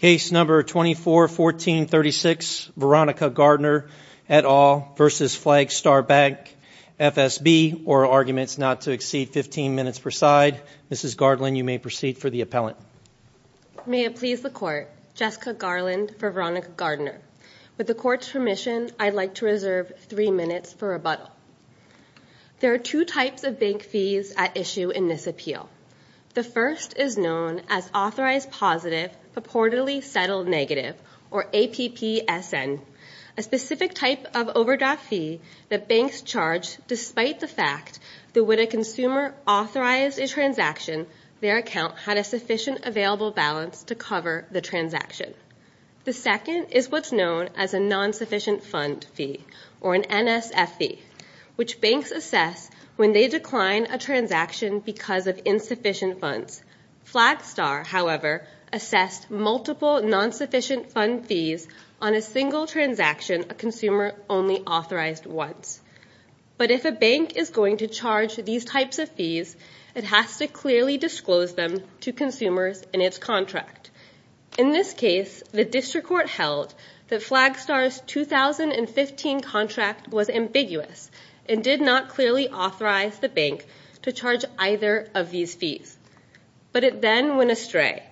Case number 241436, Veronica Gardner et al. v. Flagstar Bank FSB or arguments not to exceed 15 minutes per side. Mrs. Garland, you may proceed for the appellant. May it please the court, Jessica Garland for Veronica Gardner. With the court's permission, I'd like to reserve three minutes for rebuttal. There are two types of bank fees at issue in this appeal. The first is known as Authorized Positive Purportedly Settled Negative or APPSN, a specific type of overdraft fee that banks charge despite the fact that when a consumer authorized a transaction, their account had a sufficient available balance to cover the transaction. The second is what's known as a non-sufficient fund fee or an NSF fee, which banks assess when they decline a transaction because of insufficient funds. Flagstar, however, assessed multiple non-sufficient fund fees on a single transaction a consumer only authorized once. But if a bank is going to charge these types of fees, it has to clearly disclose them to consumers in its contract. In this case, the district court held that Flagstar's 2015 contract was ambiguous and did not clearly authorize the bank to charge either of these fees. But it then went astray.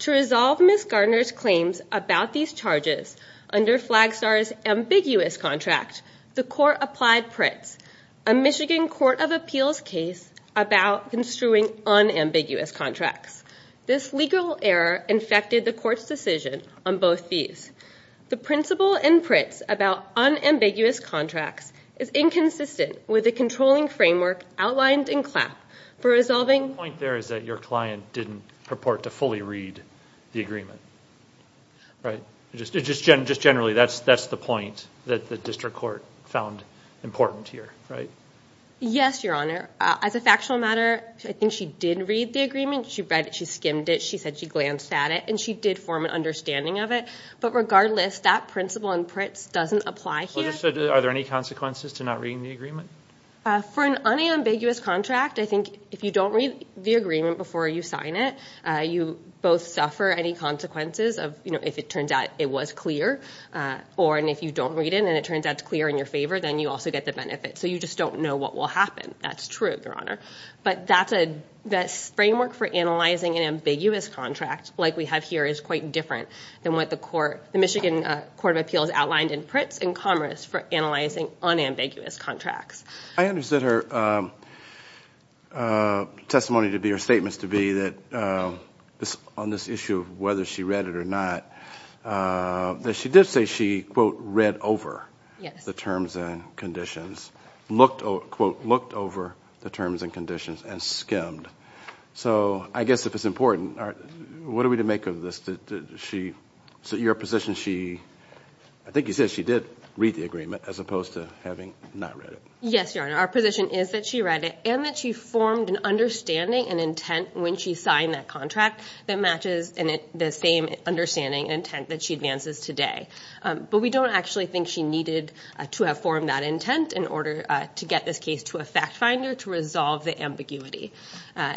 To resolve Ms. Gardner's claims about these charges under Flagstar's ambiguous contract, the court applied PRITZ, a Michigan Court of Appeals case about construing unambiguous contracts. This legal error infected the court's decision on both fees. The principle in PRITZ about unambiguous contracts is inconsistent with the controlling framework outlined in CLAP for resolving- The point there is that your client didn't purport to fully read the agreement, right? Just generally, that's the point that the district court found important here, right? Yes, Your Honor. As a factual matter, I think she did read the agreement. She read it. She skimmed it. She said she glanced at it, and she did form an understanding of it. But regardless, that principle in PRITZ doesn't apply here. Are there any consequences to not reading the agreement? For an unambiguous contract, I think if you don't read the agreement before you sign it, you both suffer any consequences of, you know, if it turns out it was clear, or if you don't read it and it turns out it's clear in your favor, then you also get the benefit. So you just don't know what will happen. That's true, Your Honor. But that framework for analyzing an ambiguous contract, like we have here, is quite different than what the Michigan Court of Appeals outlined in PRITZ and Commerce for analyzing unambiguous contracts. I understood her testimony to be, or statements to be, that on this issue of whether she read it or not, that she did say she, quote, read over the terms and conditions, looked, quote, looked over the terms and conditions, and skimmed. So I guess if it's important, what are we to make of this? She, your position, she, I think you said she did read the agreement as opposed to having not read it. Yes, Your Honor, our position is that she read it and that she formed an understanding and intent when she signed that contract that matches the same understanding and intent that she advances today. But we don't actually think she needed to have formed that intent in order to get this case to a fact finder to resolve the ambiguity.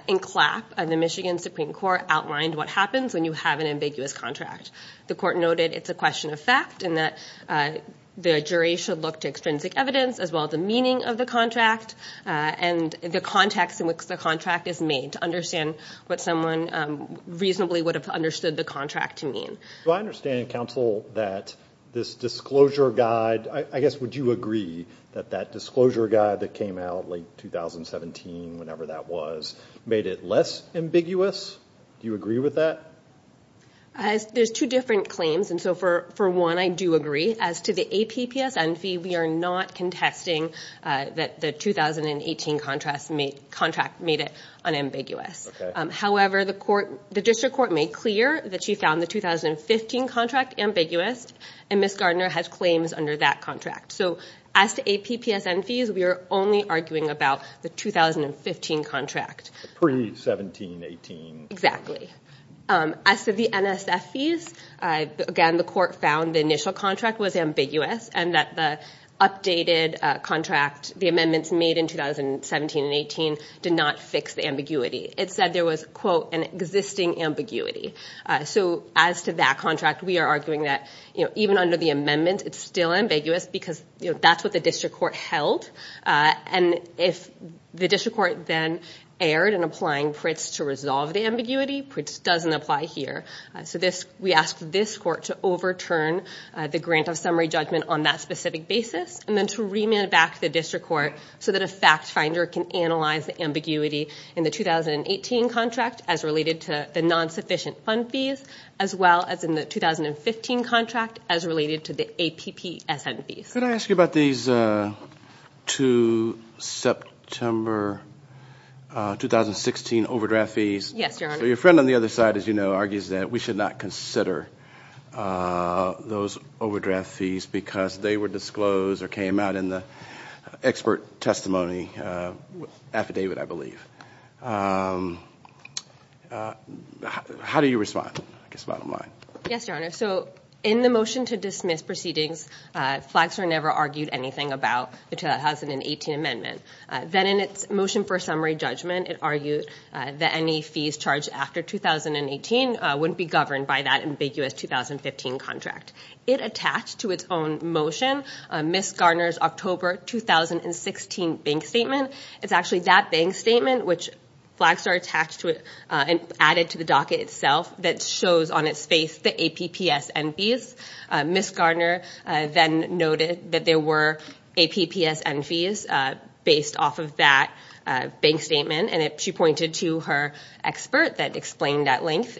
In CLAP, the Michigan Supreme Court outlined what happens when you have an ambiguous contract. The court noted it's a question of fact and that the jury should look to extrinsic evidence as well as the meaning of the contract and the context in which the contract is made to understand what someone reasonably would have understood the contract to mean. Do I understand, counsel, that this disclosure guide, I guess would you agree that that disclosure guide that came out late 2017, whenever that was, made it less ambiguous? Do you agree with that? There's two different claims and so for one, I do agree. As to the APPSN fee, we are not contesting that the 2018 contract made it unambiguous. However, the district court made clear that she found the 2015 contract ambiguous and Ms. Gardner has claims under that contract. So, as to APPSN fees, we are only arguing about the 2015 contract. Pre-17, 18. Exactly. As to the NSF fees, again, the court found the initial contract was ambiguous and that the updated contract, the amendments made in 2017 and 18 did not fix the ambiguity. It said there was, quote, an existing ambiguity. So as to that contract, we are arguing that even under the amendment, it's still ambiguous because that's what the district court held and if the district court then erred in applying PRITZ to resolve the ambiguity, PRITZ doesn't apply here. So we ask this court to overturn the grant of summary judgment on that specific basis and then to remit it back to the district court so that a fact finder can analyze the ambiguity in the 2018 contract as related to the non-sufficient fund fees as well as in the 2015 contract as related to the APPSN fees. Could I ask you about these 2 September 2016 overdraft fees? Yes, Your Honor. So your friend on the other side, as you know, argues that we should not consider those overdraft fees because they were disclosed or came out in the expert testimony affidavit, I believe. How do you respond? I guess bottom line. Yes, Your Honor. So in the motion to dismiss proceedings, Flagstar never argued anything about the 2018 amendment. Then in its motion for summary judgment, it argued that any fees charged after 2018 wouldn't be governed by that ambiguous 2015 contract. It attached to its own motion, Ms. Garner's October 2016 bank statement. It's actually that bank statement which Flagstar attached to it and added to the docket itself that shows on its face the APPSN fees. Ms. Garner then noted that there were APPSN fees based off of that bank statement and she pointed to her expert that explained at length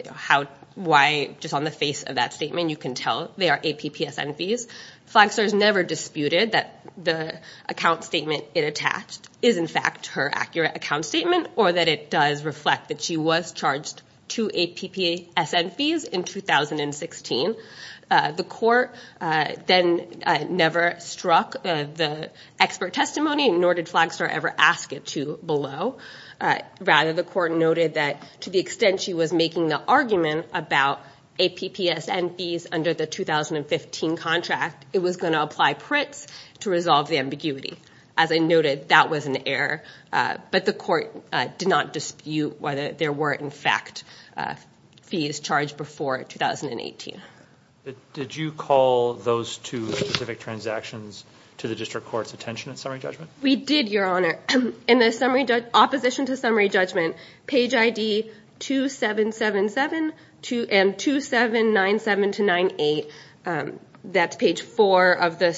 why just on the face of that statement you can tell they are APPSN fees. Flagstar's never disputed that the account statement it attached is in fact her accurate account statement or that it does reflect that she was charged two APPSN fees in 2016. The court then never struck the expert testimony nor did Flagstar ever ask it to below. Rather, the court noted that to the extent she was making the argument about APPSN fees under the 2015 contract, it was going to apply PRITZ to resolve the ambiguity. As I noted, that was an error. But the court did not dispute whether there were in fact fees charged before 2018. Did you call those two specific transactions to the district court's attention at summary judgment? We did, Your Honor. In the opposition to summary judgment, page ID 2777 and 2797-98, that's page 4 of the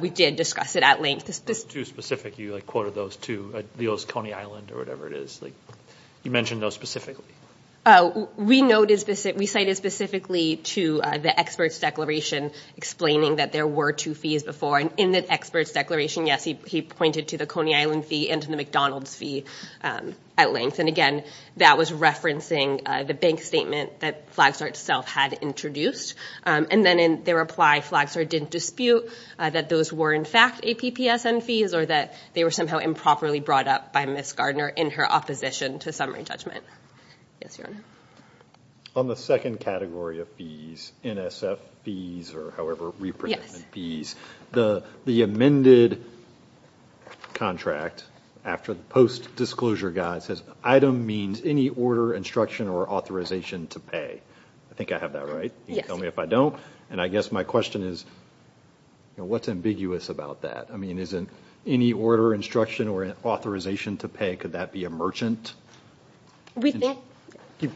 We did discuss it at length. Those two specific, you quoted those two, the O's Coney Island or whatever it is. You mentioned those specifically. We cited specifically to the expert's declaration explaining that there were two fees before and in the expert's declaration, yes, he pointed to the Coney Island fee and to the McDonald's fee at length. And again, that was referencing the bank statement that Flagstar itself had introduced. And then in their reply, Flagstar didn't dispute that those were in fact APPSN fees or that they were somehow improperly brought up by Ms. Gardner in her opposition to summary judgment. Yes, Your Honor. On the second category of fees, NSF fees or however, representative fees, the amended contract after the post-disclosure guide says item means any order, instruction, or authorization to pay. I think I have that right. Yes. Can you tell me if I don't? And I guess my question is, what's ambiguous about that? I mean, is it any order, instruction, or authorization to pay? Could that be a merchant?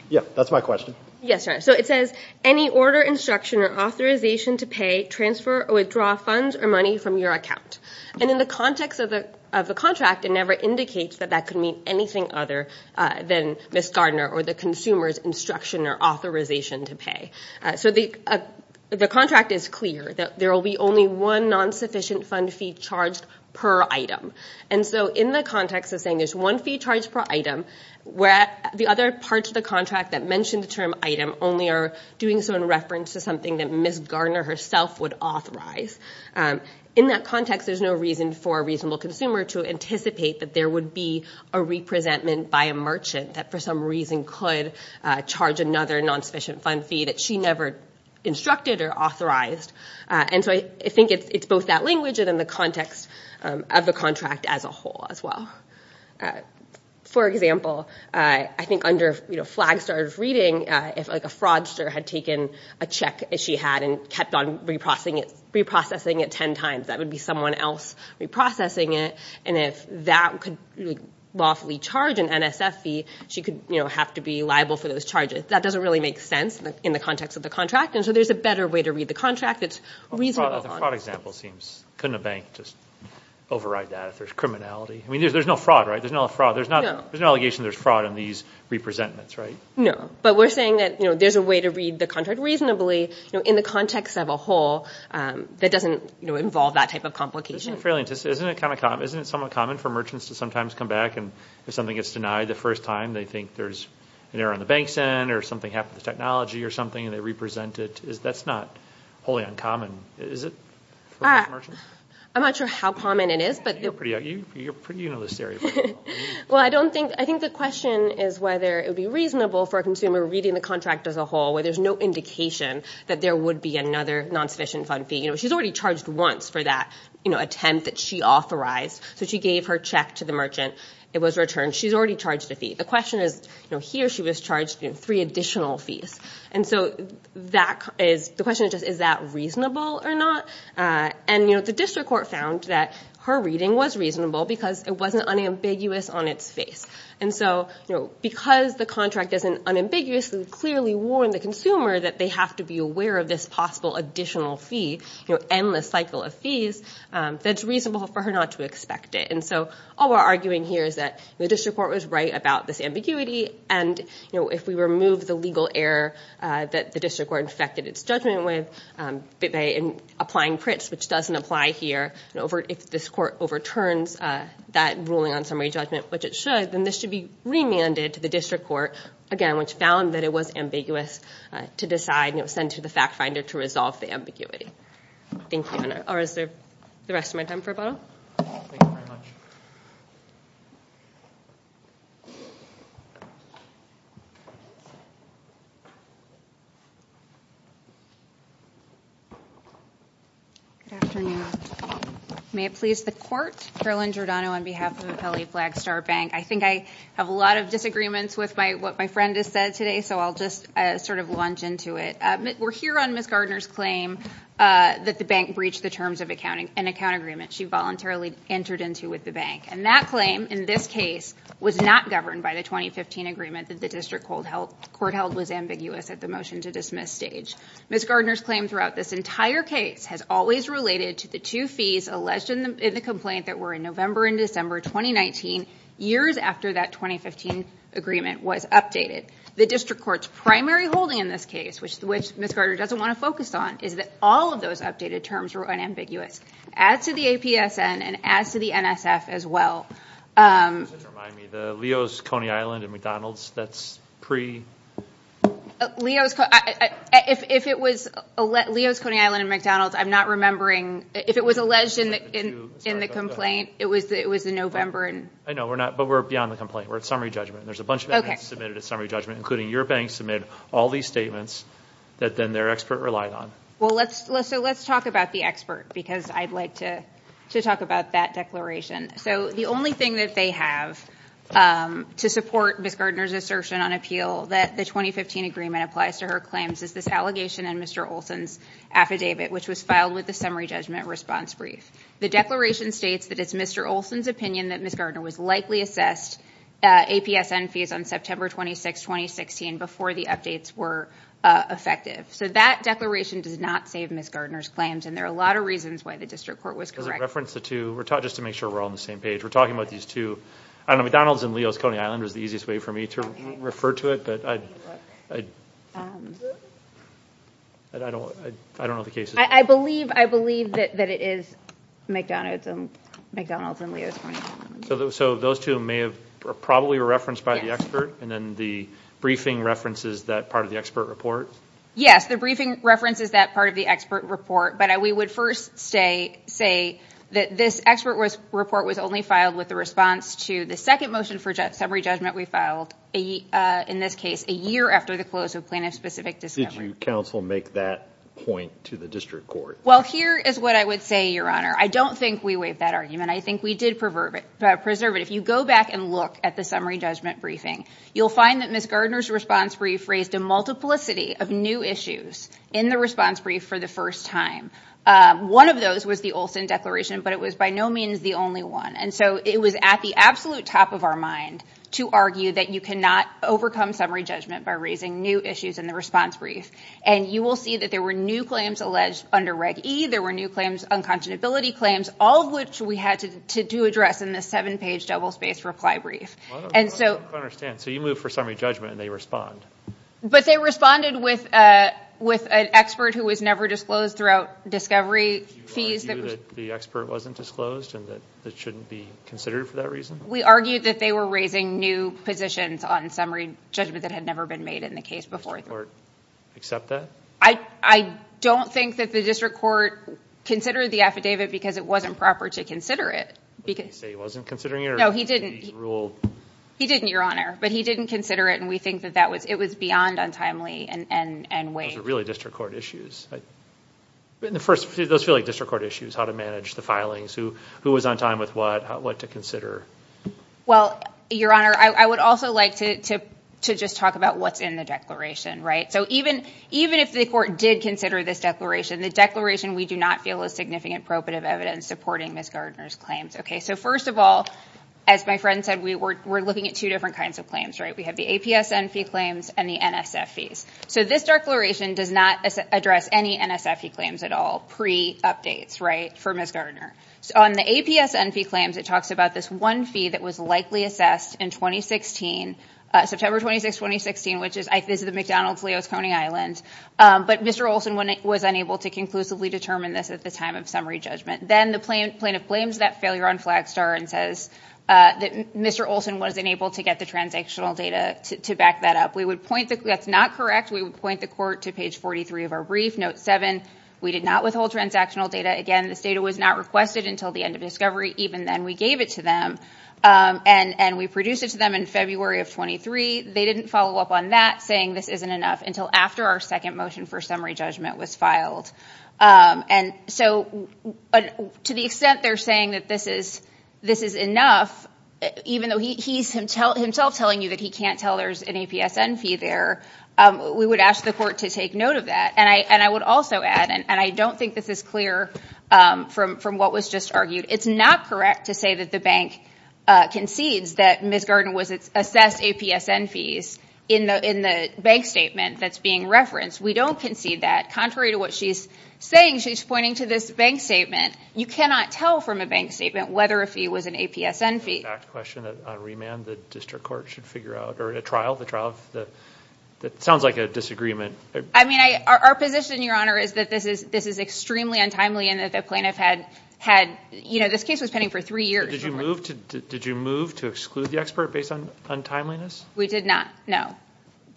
Yeah, that's my question. Yes, Your Honor. So it says any order, instruction, or authorization to pay, transfer or withdraw funds or money from your account. And in the context of the contract, it never indicates that that could mean anything other than Ms. Gardner or the consumer's instruction or authorization to pay. So the contract is clear that there will be only one non-sufficient fund fee charged per item. And so in the context of saying there's one fee charged per item, the other parts of the contract that mention the term item only are doing so in reference to something that Ms. Gardner herself would authorize. In that context, there's no reason for a reasonable consumer to anticipate that there would be a representment by a merchant that for some reason could charge another non-sufficient fund fee that she never instructed or authorized. And so I think it's both that language and in the context of the contract as a whole as well. For example, I think under Flagstar's reading, if a fraudster had taken a check that she had and kept on reprocessing it 10 times, that would be someone else reprocessing it. And if that could lawfully charge an NSF fee, she could have to be liable for those charges. That doesn't really make sense in the context of the contract, and so there's a better way to read the contract that's reasonable. The fraud example seems, couldn't a bank just override that if there's criminality? There's no fraud, right? There's no fraud. There's no allegation there's fraud in these representments, right? No. But we're saying that there's a way to read the contract reasonably in the context of a whole that doesn't involve that type of complication. Isn't it somewhat common for merchants to sometimes come back and if something gets denied the first time, they think there's an error on the bank's end or something happened to the technology or something and they represent it. That's not wholly uncommon, is it? I'm not sure how common it is, but you know this area pretty well. Well, I think the question is whether it would be reasonable for a consumer reading the contract as a whole where there's no indication that there would be another non-sufficient fund fee. She's already charged once for that attempt that she authorized, so she gave her check to the merchant. It was returned. She's already charged a fee. The question is, here she was charged three additional fees. And so the question is just is that reasonable or not? And the district court found that her reading was reasonable because it wasn't unambiguous on its face. And so because the contract doesn't unambiguously clearly warn the consumer that they have to be aware of this possible additional fee, endless cycle of fees, that it's reasonable for her not to expect it. And so all we're arguing here is that the district court was right about this ambiguity and if we remove the legal error that the district court infected its judgment with by applying Pritz, which doesn't apply here, if this court overturns that ruling on summary judgment, which it should, then this should be remanded to the district court, again, which found that it was ambiguous to decide and it was sent to the fact finder to resolve the ambiguity. Thank you. Or is there the rest of my time for a bottle? Thank you very much. Good afternoon. May it please the court. Carolyn Giordano on behalf of Apelli Flagstar Bank. I think I have a lot of disagreements with what my friend has said today, so I'll just sort of lunge into it. We're here on Ms. Gardner's claim that the bank breached the terms of an account agreement she voluntarily entered into with the bank. And that claim, in this case, was not governed by the 2015 agreement that the district court held was ambiguous at the motion to dismiss stage. Ms. Gardner's claim throughout this entire case has always related to the two fees alleged in the complaint that were in November and December 2019, years after that 2015 agreement was updated. The district court's primary holding in this case, which Ms. Gardner doesn't want to focus on, is that all of those updated terms were unambiguous, as to the APSN and as to the NSF as well. Just to remind me, the Leo's, Coney Island, and McDonald's, that's pre-? Leo's, Coney Island, and McDonald's, I'm not remembering. If it was alleged in the complaint, it was in November and- I know, but we're beyond the complaint. We're at summary judgment. There's a bunch of statements submitted at summary judgment, including your bank submitted all these statements that then their expert relied on. Well, so let's talk about the expert, because I'd like to talk about that declaration. So the only thing that they have to support Ms. Gardner's assertion on appeal that the 2015 agreement applies to her claims is this allegation in Mr. Olson's affidavit, which was filed with the summary judgment response brief. The declaration states that it's Mr. Olson's opinion that Ms. Gardner was likely assessed APSN fees on September 26, 2016, before the updates were effective. So that declaration does not save Ms. Gardner's claims, and there are a lot of reasons why the district court was correct. Does it reference the two? Just to make sure we're all on the same page, we're talking about these two. I don't know, McDonald's and Leo's, Coney Island is the easiest way for me to refer to it, but I don't know if the case is- I believe that it is McDonald's and Leo's, Coney Island. So those two may have probably were referenced by the expert, and then the briefing references that part of the expert report? Yes, the briefing references that part of the expert report, but we would first say that this expert report was only filed with the response to the second motion for summary judgment we filed, in this case, a year after the close of plaintiff-specific discovery. How would you counsel make that point to the district court? Well, here is what I would say, Your Honor. I don't think we waived that argument. I think we did preserve it. If you go back and look at the summary judgment briefing, you'll find that Ms. Gardner's response brief raised a multiplicity of new issues in the response brief for the first time. One of those was the Olson declaration, but it was by no means the only one. And so it was at the absolute top of our mind to argue that you cannot overcome summary judgment by raising new issues in the response brief. And you will see that there were new claims alleged under Reg E. There were new claims, unconscionability claims, all of which we had to address in the seven-page double-spaced reply brief. I don't understand. So you move for summary judgment, and they respond? But they responded with an expert who was never disclosed throughout discovery fees. Did you argue that the expert wasn't disclosed and that it shouldn't be considered for that reason? We argued that they were raising new positions on summary judgment that had never been made in the case before. Did the district court accept that? I don't think that the district court considered the affidavit because it wasn't proper to consider it. What did he say? He wasn't considering it? No, he didn't. Or did he rule? He didn't, Your Honor. But he didn't consider it, and we think that it was beyond untimely and waived. Those are really district court issues. But in the first place, those feel like district court issues, how to manage the filings, who was on time with what, what to consider. Well, Your Honor, I would also like to just talk about what's in the declaration. So even if the court did consider this declaration, the declaration we do not feel is significant probative evidence supporting Ms. Gardner's claims. So first of all, as my friend said, we're looking at two different kinds of claims. We have the APSN fee claims and the NSF fees. So this declaration does not address any NSF fee claims at all pre-updates for Ms. Gardner. So on the APSN fee claims, it talks about this one fee that was likely assessed in 2016, September 26, 2016, which is the McDonald's Leo's Coney Island. But Mr. Olson was unable to conclusively determine this at the time of summary judgment. Then the plaintiff blames that failure on Flagstar and says that Mr. Olson was unable to get the transactional data to back that up. We would point the, that's not correct. We would point the court to page 43 of our brief, note seven, we did not withhold transactional data. Again, this data was not requested until the end of discovery. Even then we gave it to them and we produced it to them in February of 23. They didn't follow up on that saying this isn't enough until after our second motion for summary judgment was filed. And so to the extent they're saying that this is enough, even though he's himself telling you that he can't tell there's an APSN fee there, we would ask the court to take note of that. And I would also add, and I don't think this is clear from what was just argued, it's not correct to say that the bank concedes that Ms. Gardner was assessed APSN fees in the bank statement that's being referenced. We don't concede that. Contrary to what she's saying, she's pointing to this bank statement. You cannot tell from a bank statement whether a fee was an APSN fee. An exact question that on remand the district court should figure out, or a trial, the trial of the, that sounds like a disagreement. I mean, our position, Your Honor, is that this is extremely untimely and that the plaintiff had, you know, this case was pending for three years. Did you move to exclude the expert based on untimeliness? We did not. No.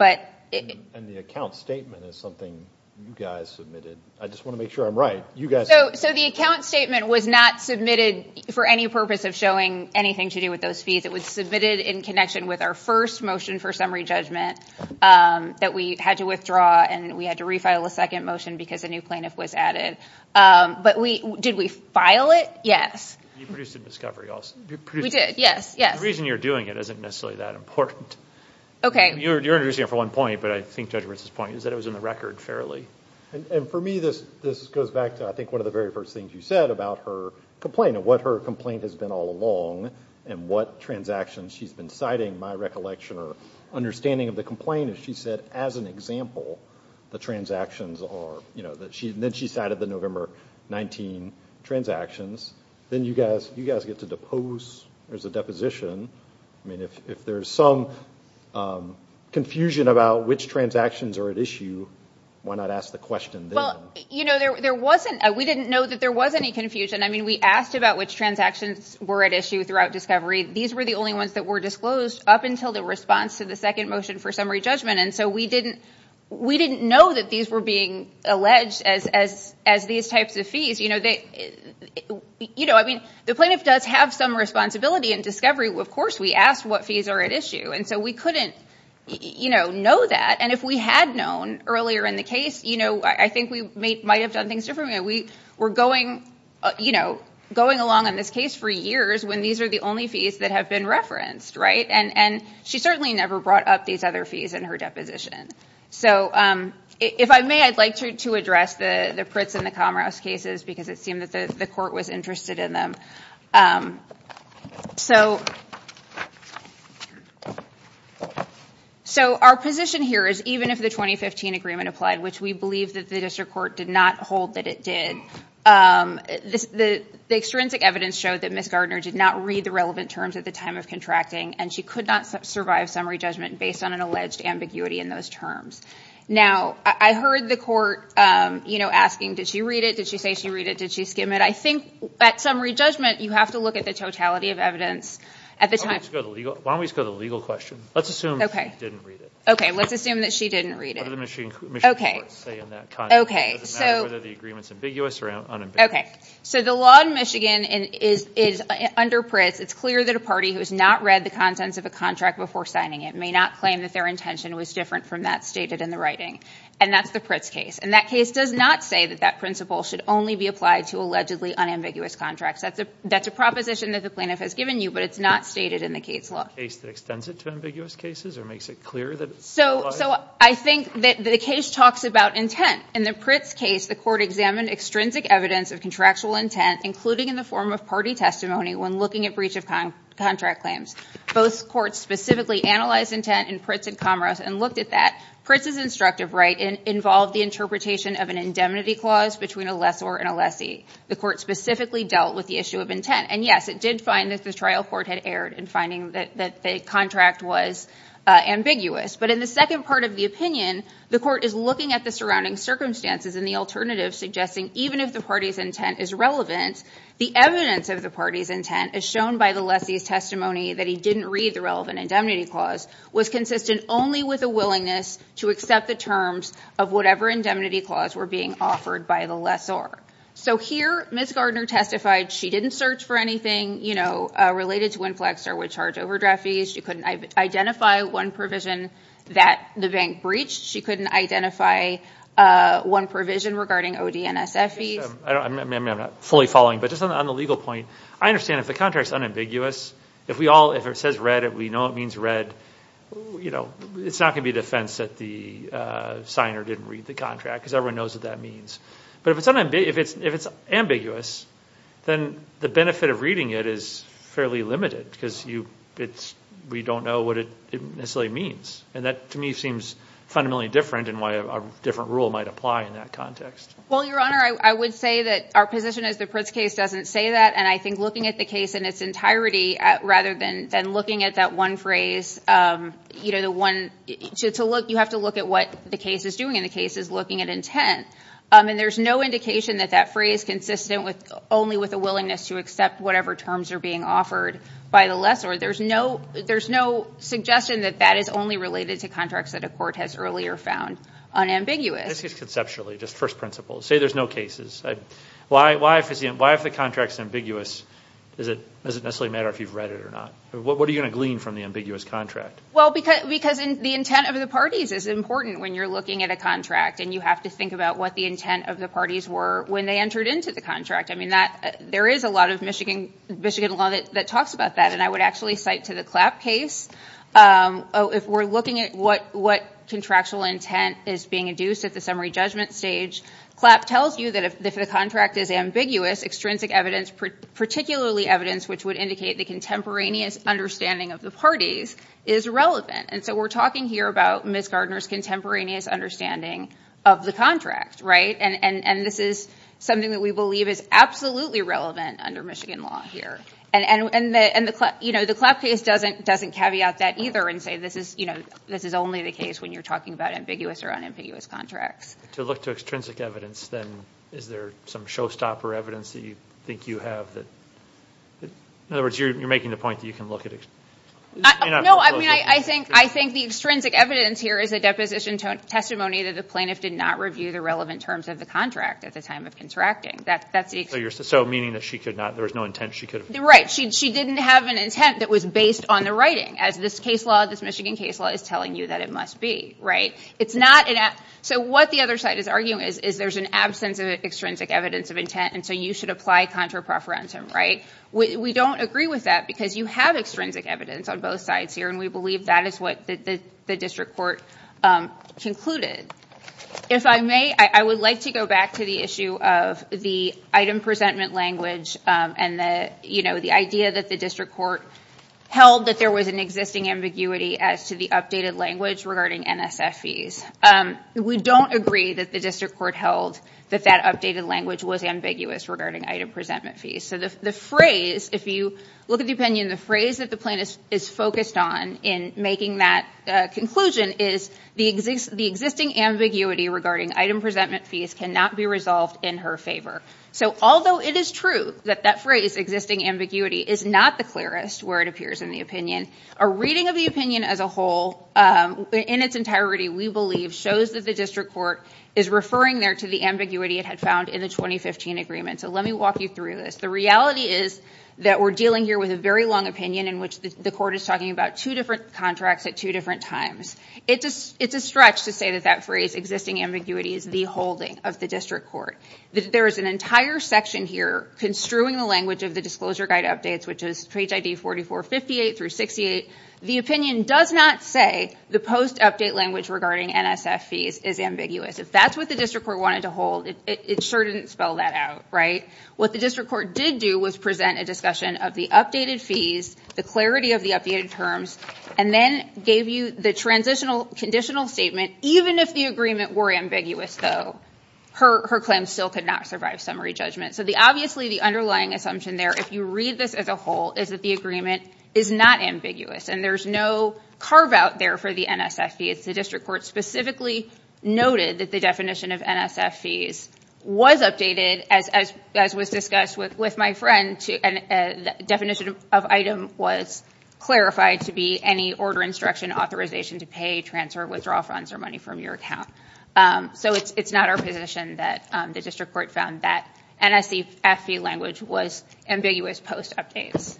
And the account statement is something you guys submitted. I just want to make sure I'm right. So the account statement was not submitted for any purpose of showing anything to do with those fees. It was submitted in connection with our first motion for summary judgment that we had to draw, and we had to refile a second motion because a new plaintiff was added. But we, did we file it? Yes. You produced a discovery also. We did. Yes. Yes. The reason you're doing it isn't necessarily that important. Okay. You're introducing it for one point, but I think Judge Wirtz's point is that it was in the record fairly. And for me, this goes back to, I think, one of the very first things you said about her complaint, and what her complaint has been all along, and what transactions she's been my recollection or understanding of the complaint is she said, as an example, the transactions are, you know, that she, and then she cited the November 19 transactions. Then you guys, you guys get to depose, there's a deposition. I mean, if there's some confusion about which transactions are at issue, why not ask the question then? Well, you know, there, there wasn't, we didn't know that there was any confusion. I mean, we asked about which transactions were at issue throughout discovery. These were the only ones that were disclosed up until the response to the second motion for summary judgment. And so we didn't, we didn't know that these were being alleged as, as, as these types of fees, you know, they, you know, I mean, the plaintiff does have some responsibility in discovery. Of course, we asked what fees are at issue. And so we couldn't, you know, know that. And if we had known earlier in the case, you know, I think we might have done things differently. We were going, you know, going along on this case for years when these are the only fees that have been referenced, right? And she certainly never brought up these other fees in her deposition. So if I may, I'd like to address the, the Pritz and the Comrass cases because it seemed that the court was interested in them. So our position here is even if the 2015 agreement applied, which we believe that the district court did not hold that it did, this, the, the extrinsic evidence showed that Ms. Gardner did not read the relevant terms at the time of contracting and she could not survive summary judgment based on an alleged ambiguity in those terms. Now I heard the court, you know, asking, did she read it? Did she say she read it? Did she skim it? I think at summary judgment, you have to look at the totality of evidence at the time. Why don't we just go to the legal question? Let's assume she didn't read it. Okay. Let's assume that she didn't read it. Okay. Okay. So. So the law in Michigan is, is under Pritz. It's clear that a party who has not read the contents of a contract before signing it may not claim that their intention was different from that stated in the writing. And that's the Pritz case. And that case does not say that that principle should only be applied to allegedly unambiguous contracts. That's a, that's a proposition that the plaintiff has given you, but it's not stated in the case law. A case that extends it to ambiguous cases or makes it clear that it's applied? So, so I think that the case talks about intent. In the Pritz case, the court examined extrinsic evidence of contractual intent, including in the form of party testimony when looking at breach of contract claims. Both courts specifically analyzed intent in Pritz and Comras and looked at that. Pritz's instructive right involved the interpretation of an indemnity clause between a lessor and a lessee. The court specifically dealt with the issue of intent. And yes, it did find that the trial court had erred in finding that the contract was ambiguous. But in the second part of the opinion, the court is looking at the surrounding circumstances and the alternative, suggesting even if the party's intent is relevant, the evidence of the party's intent as shown by the lessee's testimony that he didn't read the relevant indemnity clause was consistent only with a willingness to accept the terms of whatever indemnity clause were being offered by the lessor. So here, Ms. Gardner testified she didn't search for anything, you know, related to inflexor with charge overdraft fees. She couldn't identify one provision that the bank breached. She couldn't identify one provision regarding ODNSF fees. I mean, I'm not fully following, but just on the legal point, I understand if the contract is unambiguous, if we all, if it says red, if we know it means red, you know, it's not going to be a defense that the signer didn't read the contract because everyone knows what that means. But if it's ambiguous, then the benefit of reading it is fairly limited because you, it's, we don't know what it necessarily means. And that, to me, seems fundamentally different and why a different rule might apply in that Well, Your Honor, I would say that our position is the Pritz case doesn't say that. And I think looking at the case in its entirety rather than looking at that one phrase, you know, the one, to look, you have to look at what the case is doing and the case is looking at intent. And there's no indication that that phrase consistent with only with a willingness to accept whatever terms are being offered by the lessor. There's no, there's no suggestion that that is only related to contracts that a court has earlier found unambiguous. This is conceptually, just first principle. Say there's no cases. Why? Why? Why? If the contract is ambiguous, is it, does it necessarily matter if you've read it or not? What are you going to glean from the ambiguous contract? Well, because, because the intent of the parties is important when you're looking at a contract and you have to think about what the intent of the parties were when they entered into the contract. I mean, that, there is a lot of Michigan, Michigan law that, that talks about that. And I would actually cite to the Clapp case, if we're looking at what, what contractual intent is being induced at the summary judgment stage, Clapp tells you that if the contract is ambiguous, extrinsic evidence, particularly evidence, which would indicate the contemporaneous understanding of the parties is relevant. And so we're talking here about Ms. Gardner's contemporaneous understanding of the contract, right? And, and, and this is something that we believe is absolutely relevant under Michigan law here. And, and, and the, and the Clapp, you know, the Clapp case doesn't, doesn't caveat that either and say, this is, you know, this is only the case when you're talking about ambiguous or unambiguous contracts. To look to extrinsic evidence, then is there some showstopper evidence that you think you have that, in other words, you're, you're making the point that you can look at it. No, I mean, I think, I think the extrinsic evidence here is a deposition to a testimony that the plaintiff did not review the relevant terms of the contract at the time of contracting. That, that's the... So you're, so meaning that she could not, there was no intent she could have... Right. She, she didn't have an intent that was based on the writing, as this case law, this Michigan case law is telling you that it must be, right? It's not an... So what the other side is arguing is, is there's an absence of extrinsic evidence of intent and so you should apply contra preferentum, right? We don't agree with that because you have extrinsic evidence on both sides here and we believe that is what the, the district court concluded. If I may, I would like to go back to the issue of the item presentment language and the, you know, the idea that the district court held that there was an existing ambiguity as to the updated language regarding NSF fees. We don't agree that the district court held that that updated language was ambiguous regarding item presentment fees. So the, the phrase, if you look at the opinion, the phrase that the plaintiff is focused on in making that conclusion is the existing ambiguity regarding item presentment fees cannot be resolved in her favor. So although it is true that that phrase, existing ambiguity, is not the clearest where it appears in the opinion, a reading of the opinion as a whole, in its entirety, we believe shows that the district court is referring there to the ambiguity it had found in the 2015 agreement. So let me walk you through this. The reality is that we're dealing here with a very long opinion in which the court is talking about two different contracts at two different times. It's a, it's a stretch to say that that phrase, existing ambiguity, is the holding of the district court. There is an entire section here construing the language of the disclosure guide updates, which is page ID 4458 through 68. The opinion does not say the post-update language regarding NSF fees is ambiguous. If that's what the district court wanted to hold, it sure didn't spell that out, right? What the district court did do was present a discussion of the updated fees, the clarity of the updated terms, and then gave you the transitional, conditional statement. Even if the agreement were ambiguous, though, her, her claim still could not survive summary judgment. So the, obviously, the underlying assumption there, if you read this as a whole, is that the agreement is not ambiguous, and there's no carve-out there for the NSF fees. The district court specifically noted that the definition of NSF fees was updated, as, as, as was discussed with, with my friend, to, and the definition of item was clarified to be any order, instruction, authorization to pay, transfer, withdraw funds, or money from your account. So it's, it's not our position that the district court found that NSF fee language was ambiguous post-updates.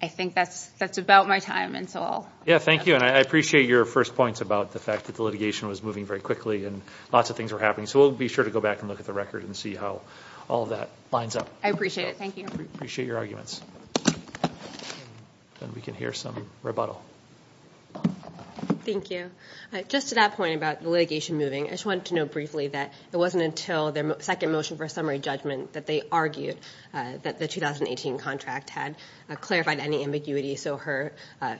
I think that's, that's about my time, and so I'll... Yeah, thank you, and I appreciate your first points about the fact that the litigation was moving very quickly, and lots of things were happening. So we'll be sure to go back and look at the record and see how all of that lines up. I appreciate it. Thank you. Appreciate your arguments. And we can hear some rebuttal. Thank you. Just to that point about the litigation moving, I just wanted to note briefly that it wasn't until their second motion for summary judgment that they argued that the 2018 contract had clarified any ambiguity, so her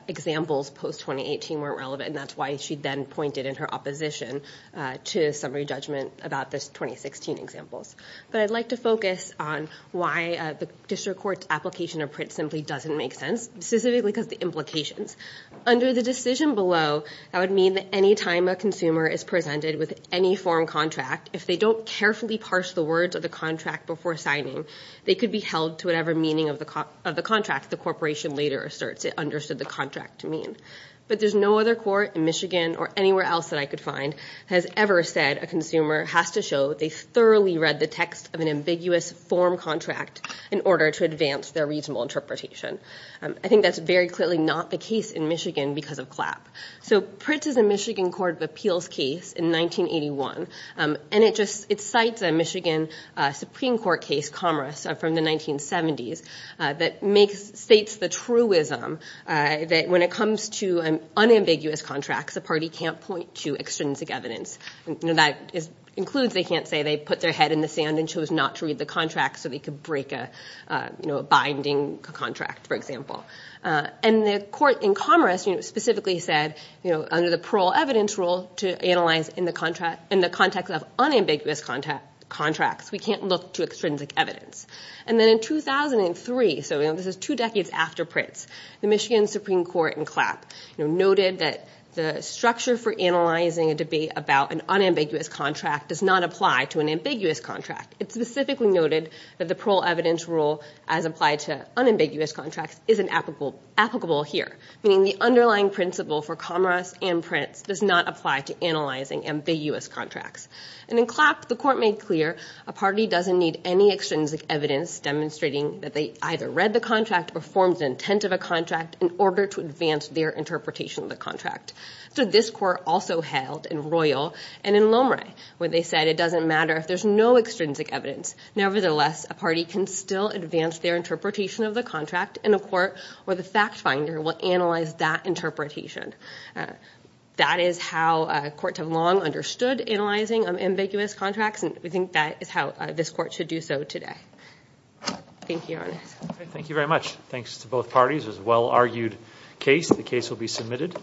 examples post-2018 weren't relevant, and that's why she then pointed in her opposition to summary judgment about the 2016 examples. But I'd like to focus on why the district court's application of print simply doesn't make sense, specifically because of the implications. Under the decision below, that would mean that any time a consumer is presented with any form contract, if they don't carefully parse the words of the contract before signing, they could be held to whatever meaning of the contract the corporation later asserts it understood the contract to mean. But there's no other court in Michigan or anywhere else that I could find has ever said a consumer has to show they thoroughly read the text of an ambiguous form contract in order to advance their reasonable interpretation. I think that's very clearly not the case in Michigan because of CLAP. So PRITZ is a Michigan Court of Appeals case in 1981, and it just, it cites a Michigan Supreme Court case, Commerce, from the 1970s, that makes, states the truism that when it comes to unambiguous contracts, a party can't point to extrinsic evidence. You know, that includes they can't say they put their head in the sand and chose not to read the contract so they could break a, you know, a binding contract, for example. And the court in Commerce, you know, specifically said, you know, under the parole evidence rule to analyze in the contract, in the context of unambiguous contracts, we can't look to extrinsic evidence. And then in 2003, so, you know, this is two decades after PRITZ, the Michigan Supreme Court in CLAP, you know, noted that the structure for analyzing a debate about an unambiguous contract does not apply to an ambiguous contract. It specifically noted that the parole evidence rule, as applied to unambiguous contracts, isn't applicable here, meaning the underlying principle for Commerce and PRITZ does not apply to analyzing ambiguous contracts. And in CLAP, the court made clear a party doesn't need any extrinsic evidence demonstrating that they either read the contract or formed the intent of a contract in order to advance their interpretation of the contract. So this court also held in Royal and in Lomre where they said it doesn't matter if there's no extrinsic evidence. Nevertheless, a party can still advance their interpretation of the contract and a court or the fact finder will analyze that interpretation. That is how courts have long understood analyzing unambiguous contracts and we think that is how this court should do so today. Thank you, Your Honor. Thank you very much. Thanks to both parties. It was a well-argued case. The case will be submitted.